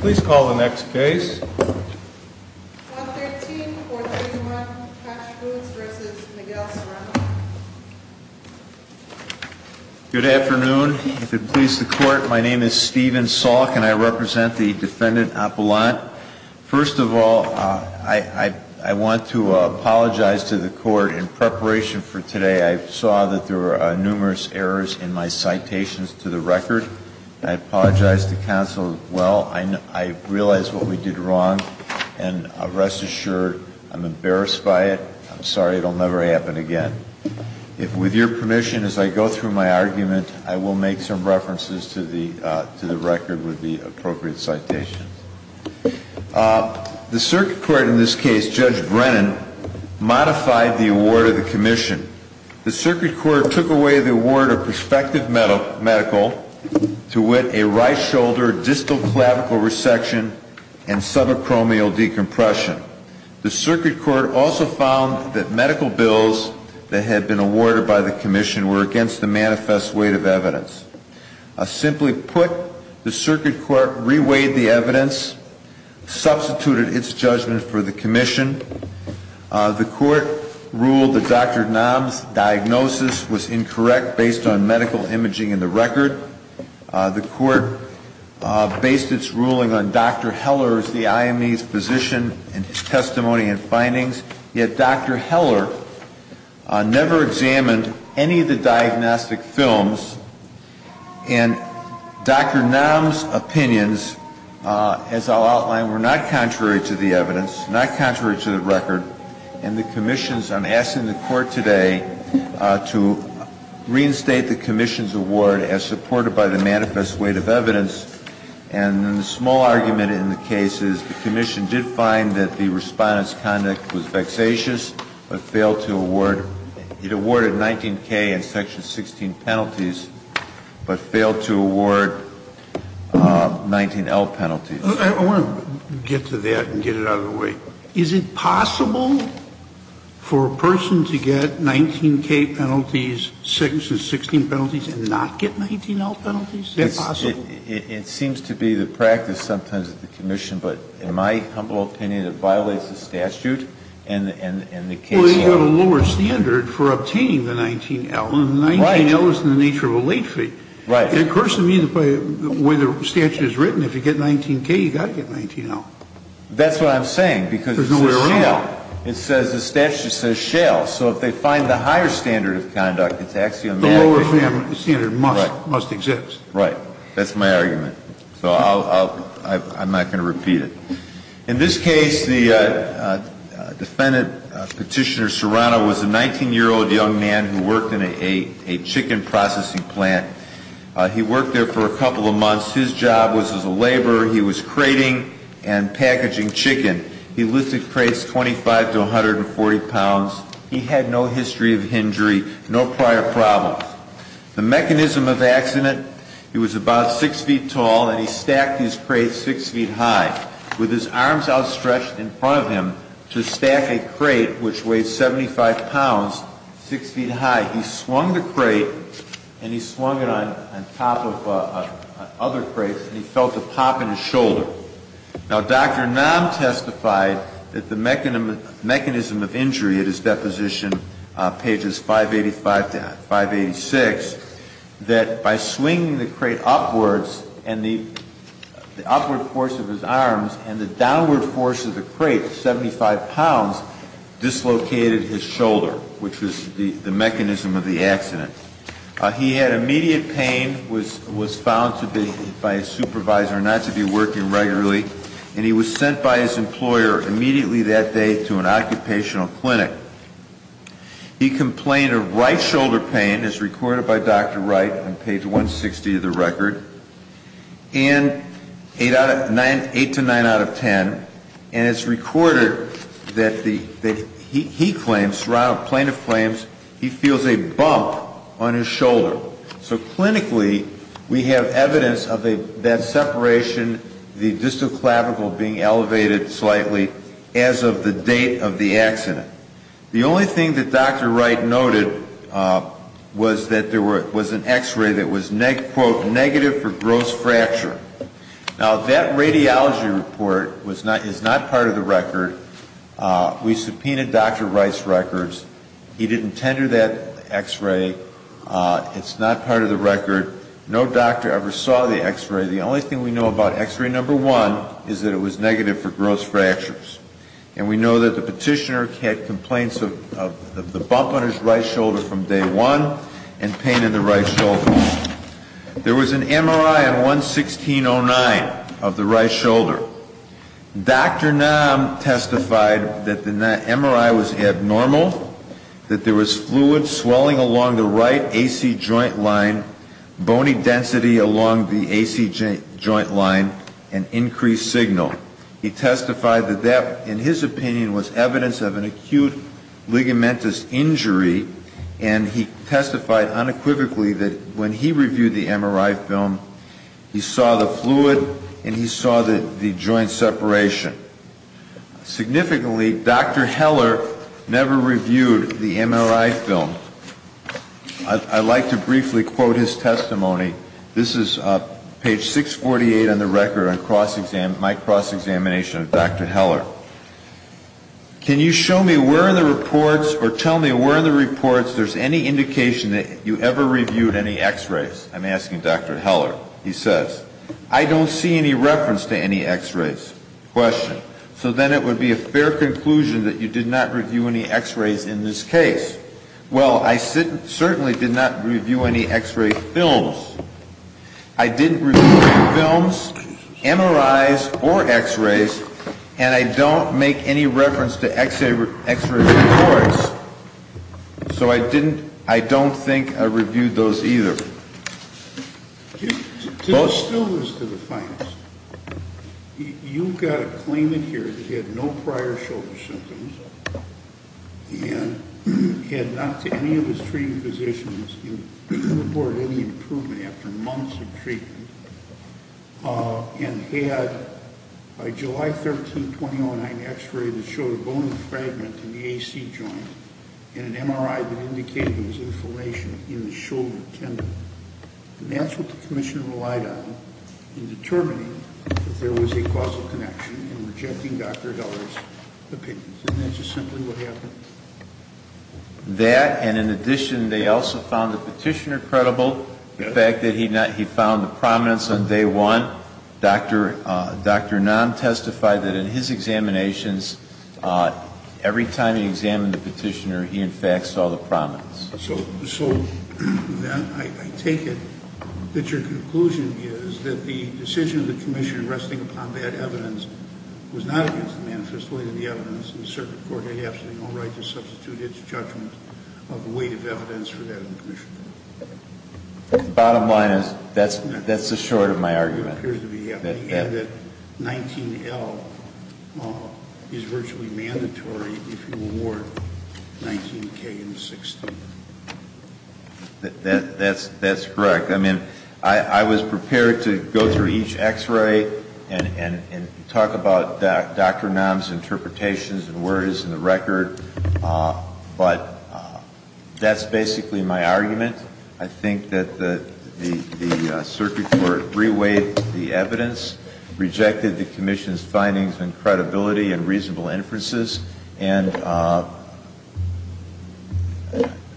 Please call the next case. Good afternoon. If it pleases the court, my name is Stephen Salk and I represent the defendant Appelant. First of all, I want to apologize to the court in preparation for today. I saw that there were numerous errors in my citations to the record. I apologize to counsel as well. I realize what we did wrong. And rest assured, I'm embarrassed by it. I'm sorry it will never happen again. With your permission, as I go through my argument, I will make some references to the record with the appropriate citations. The circuit court in this case, Judge Brennan, modified the award of the commission. The circuit court took away the award of prospective medical to wit a right shoulder distal clavicle resection and subacromial decompression. The circuit court also found that medical bills that had been awarded by the commission were against the manifest weight of evidence. Simply put, the circuit court reweighed the evidence, substituted its judgment for the commission. The court ruled that Dr. Nam's diagnosis was incorrect based on medical imaging in the record. The court based its ruling on Dr. Heller's, the IME's, position and testimony and findings. Yet Dr. Heller never examined any of the diagnostic films and Dr. Nam's opinions, as I'll outline, were not contrary to the evidence, not contrary to the record. And the commission's, I'm asking the court today to reinstate the commission's award as supported by the manifest weight of evidence. And the small argument in the case is the commission did find that the Respondent's conduct was vexatious, but failed to award, it awarded 19K and section 16 penalties, but failed to award 19L penalties. I want to get to that and get it out of the way. Is it possible for a person to get 19K penalties, section 16 penalties, and not get 19L penalties? Is that possible? It seems to be the practice sometimes of the commission, but in my humble opinion, it violates the statute and the case law. Well, you've got a lower standard for obtaining the 19L. Right. 19L is in the nature of a late fee. Right. It occurs to me the way the statute is written, if you get 19K, you've got to get 19L. That's what I'm saying, because it says shale. There's no way around it. It says the statute says shale. So if they find the higher standard of conduct, it's axiomatic. The lower standard must exist. Right. That's my argument. So I'm not going to repeat it. In this case, the defendant, Petitioner Serrano, was a 19-year-old young man who worked in a chicken processing plant. He worked there for a couple of months. His job was as a laborer. He was crating and packaging chicken. He lifted crates 25 to 140 pounds. He had no history of injury, no prior problems. The mechanism of accident, he was about 6 feet tall, and he stacked his crates 6 feet high. With his arms outstretched in front of him to stack a crate, which weighed 75 pounds, 6 feet high. He swung the crate, and he swung it on top of other crates, and he felt a pop in his shoulder. Now, Dr. Nam testified that the mechanism of injury at his deposition, pages 585 to 586, that by swinging the crate upwards, and the upward force of his arms, and the downward force of the crate, 75 pounds, dislocated his shoulder, which was the mechanism of the accident. He had immediate pain, was found to be by a supervisor not to be working regularly, and he was sent by his employer immediately that day to an occupational clinic. He complained of right shoulder pain, as recorded by Dr. Wright on page 160 of the record, and 8 to 9 out of 10, and it's recorded that he claims, plaintiff claims, he feels a bump on his shoulder. So clinically, we have evidence of that separation, the distal clavicle being elevated slightly, as of the date of the accident. The only thing that Dr. Wright noted was that there was an x-ray that was, quote, negative for gross fracture. Now, that radiology report is not part of the record. We subpoenaed Dr. Wright's records. He didn't tender that x-ray. It's not part of the record. No doctor ever saw the x-ray. The only thing we know about x-ray number one is that it was negative for gross fractures, and we know that the petitioner had complaints of the bump on his right shoulder from day one and pain in the right shoulder. There was an MRI on 116.09 of the right shoulder. Dr. Nam testified that the MRI was abnormal, that there was fluid swelling along the right AC joint line, bony density along the AC joint line, and increased signal. He testified that that, in his opinion, was evidence of an acute ligamentous injury, and he testified unequivocally that when he reviewed the MRI film, he saw the fluid and he saw the joint separation. Significantly, Dr. Heller never reviewed the MRI film. I'd like to briefly quote his testimony. This is page 648 on the record on my cross-examination of Dr. Heller. Can you show me where in the reports or tell me where in the reports there's any indication that you ever reviewed any x-rays? I'm asking Dr. Heller. He says, I don't see any reference to any x-rays. Question. So then it would be a fair conclusion that you did not review any x-rays in this case. Well, I certainly did not review any x-ray films. I didn't review any films, MRIs, or x-rays, and I don't make any reference to x-ray reports. So I don't think I reviewed those either. This still goes to the finest. You've got to claim it here that he had no prior shoulder symptoms, and had not, to any of his treating physicians, reported any improvement after months of treatment, and had, by July 13, 2009, an x-ray that showed a bone fragment in the AC joint and an MRI that indicated there was inflation in the shoulder tendon. And that's what the commissioner relied on in determining that there was a causal connection in rejecting Dr. Heller's opinion. Isn't that just simply what happened? That, and in addition, they also found the petitioner credible, the fact that he found the prominence on day one. Dr. Nahn testified that in his examinations, every time he examined the petitioner, he, in fact, saw the prominence. So then I take it that your conclusion is that the decision of the commission resting upon bad evidence was not against the manifest weight of the evidence, and the circuit court had absolutely no right to substitute its judgment of the weight of evidence for that of the commission. The bottom line is that's the short of my argument. And that 19L is virtually mandatory if you award 19K and 16. That's correct. I mean, I was prepared to go through each x-ray and talk about Dr. Nahn's interpretations and where it is in the record, but that's basically my argument. I think that the circuit court reweighed the evidence, rejected the commission's findings and credibility and reasonable inferences. And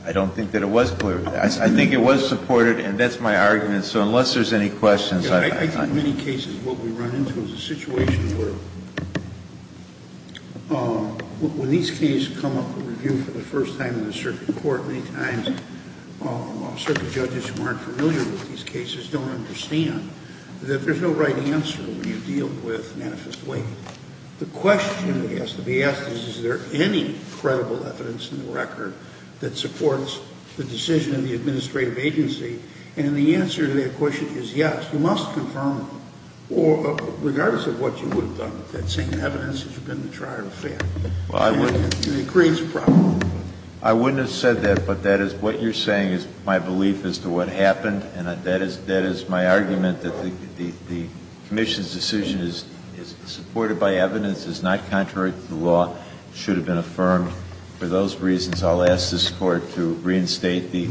I don't think that it was clear. I think it was supported, and that's my argument. So unless there's any questions, I don't know. I think in many cases what we run into is a situation where when these cases come up for review for the first time in the circuit court, many times circuit judges who aren't familiar with these cases don't understand that there's no right answer when you deal with manifest weight. The question that has to be asked is, is there any credible evidence in the record that supports the decision of the administrative agency? And the answer to that question is yes. You must confirm them, regardless of what you would have done with that same evidence if you've been in the trial or failed. Well, I wouldn't have said that, but that is what you're saying is my belief as to what happened, and that is my argument that the commission's decision is supported by evidence, is not contrary to the law, should have been affirmed. For those reasons, I'll ask this Court to reinstate the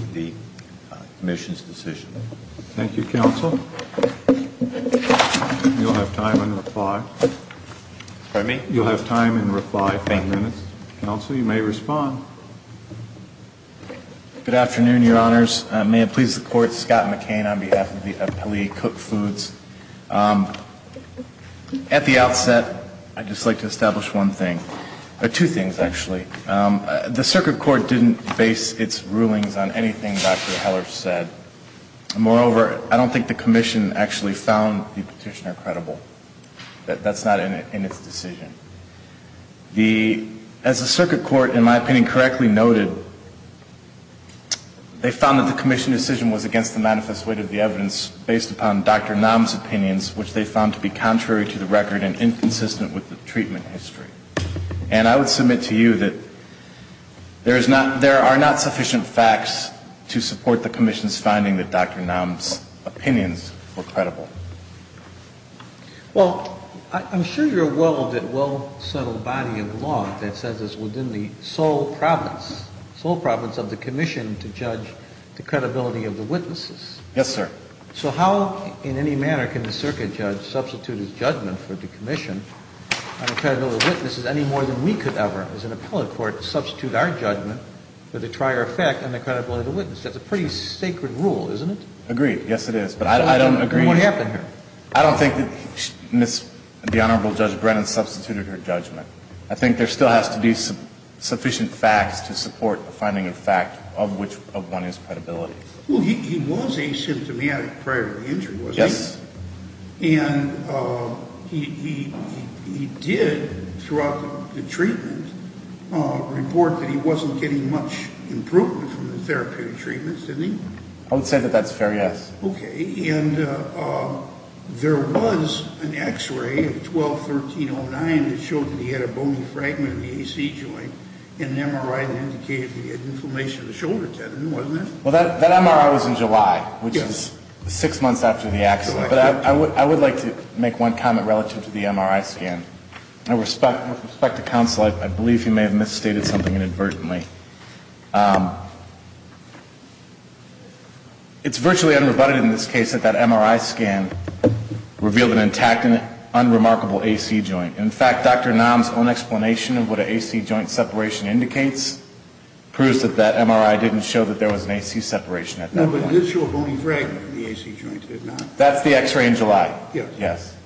commission's decision. Thank you, counsel. You'll have time in reply. Pardon me? You'll have time in reply. Five minutes. Counsel, you may respond. Good afternoon, Your Honors. May it please the Court. Scott McCain on behalf of the Appellee Cook Foods. At the outset, I'd just like to establish one thing. Two things, actually. The circuit court didn't base its rulings on anything Dr. Heller said. Moreover, I don't think the commission actually found the petitioner credible. That's not in its decision. As the circuit court, in my opinion, correctly noted, they found that the commission's decision was against the manifest weight of the evidence based upon Dr. Nam's opinions, which they found to be contrary to the record and inconsistent with the treatment history. And I would submit to you that there are not sufficient facts to support the commission's that Dr. Nam's opinions were credible. Well, I'm sure you're well of that well-settled body of law that says it's within the sole province, sole province of the commission, to judge the credibility of the witnesses. Yes, sir. So how in any manner can the circuit judge substitute his judgment for the commission on the credibility of the witnesses any more than we could ever, as an appellate court, substitute our judgment for the trier effect on the credibility of the witness? That's a pretty sacred rule, isn't it? Agreed. Yes, it is. But I don't agree. What happened here? I don't think that the Honorable Judge Brennan substituted her judgment. I think there still has to be sufficient facts to support the finding of fact of one's credibility. Well, he was asymptomatic prior to the injury, wasn't he? Yes. And he did, throughout the treatment, report that he wasn't getting much improvement from the therapeutic treatments, didn't he? I would say that that's fair, yes. Okay. And there was an X-ray of 12-1309 that showed that he had a bony fragment of the AC joint and an MRI that indicated he had inflammation of the shoulder tendon, wasn't there? Well, that MRI was in July, which is six months after the accident. Correct. But I would like to make one comment relative to the MRI scan. With respect to counsel, I believe he may have misstated something inadvertently. It's virtually unrebutted in this case that that MRI scan revealed an intact and unremarkable AC joint. In fact, Dr. Nam's own explanation of what an AC joint separation indicates proves that that MRI didn't show that there was an AC separation at that point. No, but it did show a bony fragment of the AC joint, did it not? That's the X-ray in July. Yes.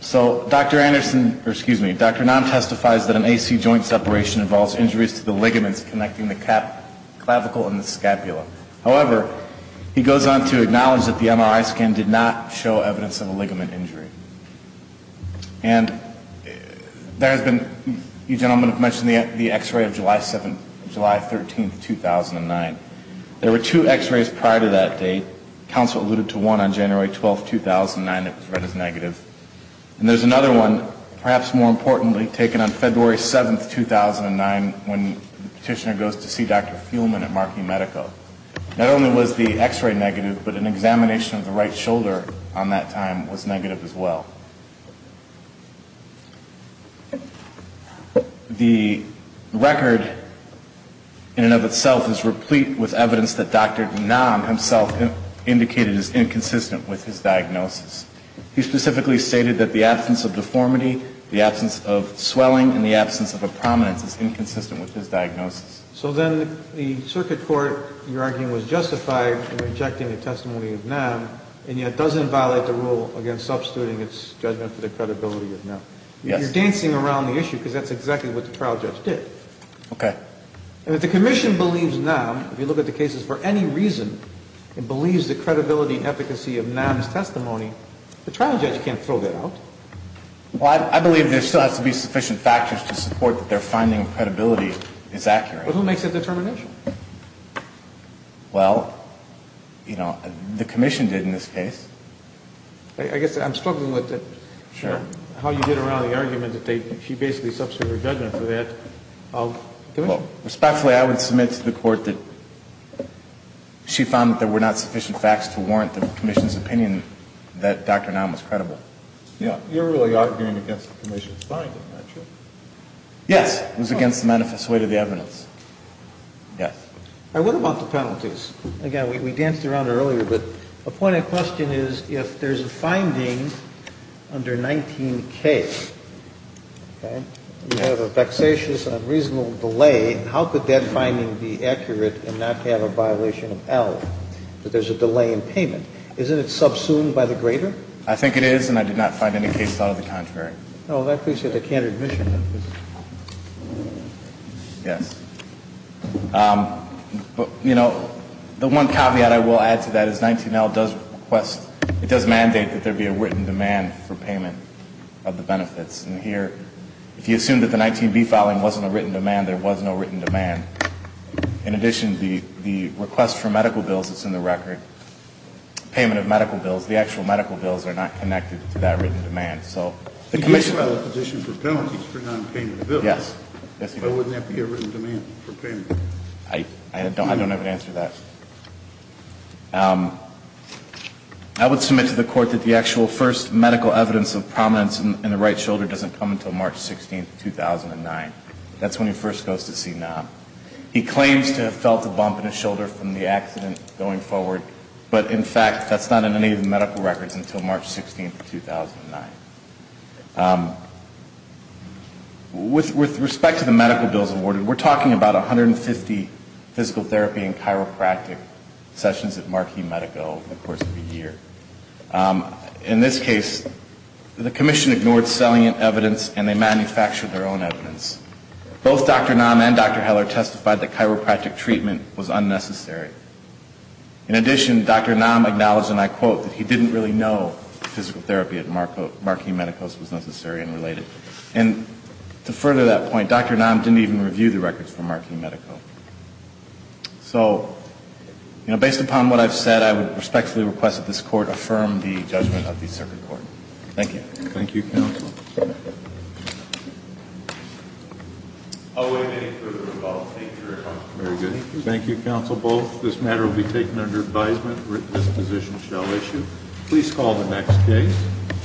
So Dr. Anderson, or excuse me, Dr. Nam testifies that an AC joint separation involves injuries to the ligaments connecting the clavicle and the scapula. However, he goes on to acknowledge that the MRI scan did not show evidence of a ligament injury. And there has been, you gentlemen have mentioned the X-ray of July 13, 2009. There were two X-rays prior to that date. Counsel alluded to one on January 12, 2009 that was read as negative. And there's another one, perhaps more importantly, taken on February 7, 2009, when the petitioner goes to see Dr. Fuhlman at Markey Medical. Not only was the X-ray negative, but an examination of the right shoulder on that time was negative as well. The record, in and of itself, is replete with evidence that Dr. Nam himself indicated is inconsistent with his diagnosis. He specifically stated that the absence of deformity, the absence of swelling, and the absence of a prominence is inconsistent with his diagnosis. So then the circuit court, you're arguing, was justified in rejecting the testimony of Nam, and yet doesn't violate the rule against substituting its diagnosis. But that's what you're arguing about, is the judge's judgment on the credibility of Nam. You're dancing around the issue because that's exactly what the trial judge did. Okay. And if the Commission believes Nam, if you look at the cases for any reason, and believes the credibility and efficacy of Nam's testimony, the trial judge can't throw that out. Well, I believe there still has to be sufficient factors to support that their finding of credibility is accurate. But who makes that determination? Well, you know, the Commission did in this case. I guess I'm struggling with how you get around the argument that she basically substituted her judgment for that of the Commission. Respectfully, I would submit to the Court that she found that there were not sufficient facts to warrant the Commission's opinion that Dr. Nam was credible. You're really arguing against the Commission's finding, aren't you? Yes. It was against the manifest weight of the evidence. Yes. All right. What about the penalties? Again, we danced around it earlier. But the point of the question is if there's a finding under 19K, okay, you have a vexatious and unreasonable delay, how could that finding be accurate and not have a violation of L, that there's a delay in payment? Isn't it subsumed by the grader? I think it is, and I did not find any cases out of the contrary. I appreciate the candid mission of this. Yes. But, you know, the one caveat I will add to that is 19L does request, it does mandate that there be a written demand for payment of the benefits. And here, if you assume that the 19B filing wasn't a written demand, there was no written demand. In addition, the request for medical bills that's in the record, payment of medical bills, the actual medical bills are not connected to that written demand. Okay. So the commission... He did file a petition for penalties for nonpayment of bills. Yes. But wouldn't that be a written demand for payment? I don't have an answer to that. I would submit to the Court that the actual first medical evidence of prominence in the right shoulder doesn't come until March 16, 2009. That's when he first goes to see NOM. He claims to have felt a bump in his shoulder from the accident going forward, but in fact that's not in any of the medical records until March 16, 2009. With respect to the medical bills awarded, we're talking about 150 physical therapy and chiropractic sessions at Marquis Medical over the course of a year. In this case, the commission ignored salient evidence and they manufactured their own evidence. Both Dr. NOM and Dr. Heller testified that chiropractic treatment was unnecessary. In addition, Dr. NOM acknowledged, and I quote, that he didn't really know that physical therapy at Marquis Medical was necessary and related. And to further that point, Dr. NOM didn't even review the records from Marquis Medical. So, you know, based upon what I've said, I would respectfully request that this Court affirm the judgment of the circuit court. Thank you. Thank you, counsel. I'll wait for any further rebuttals. Thank you, Your Honor. Very good. Thank you, counsel, both. This matter will be taken under advisement. This position shall issue. Please call the next case.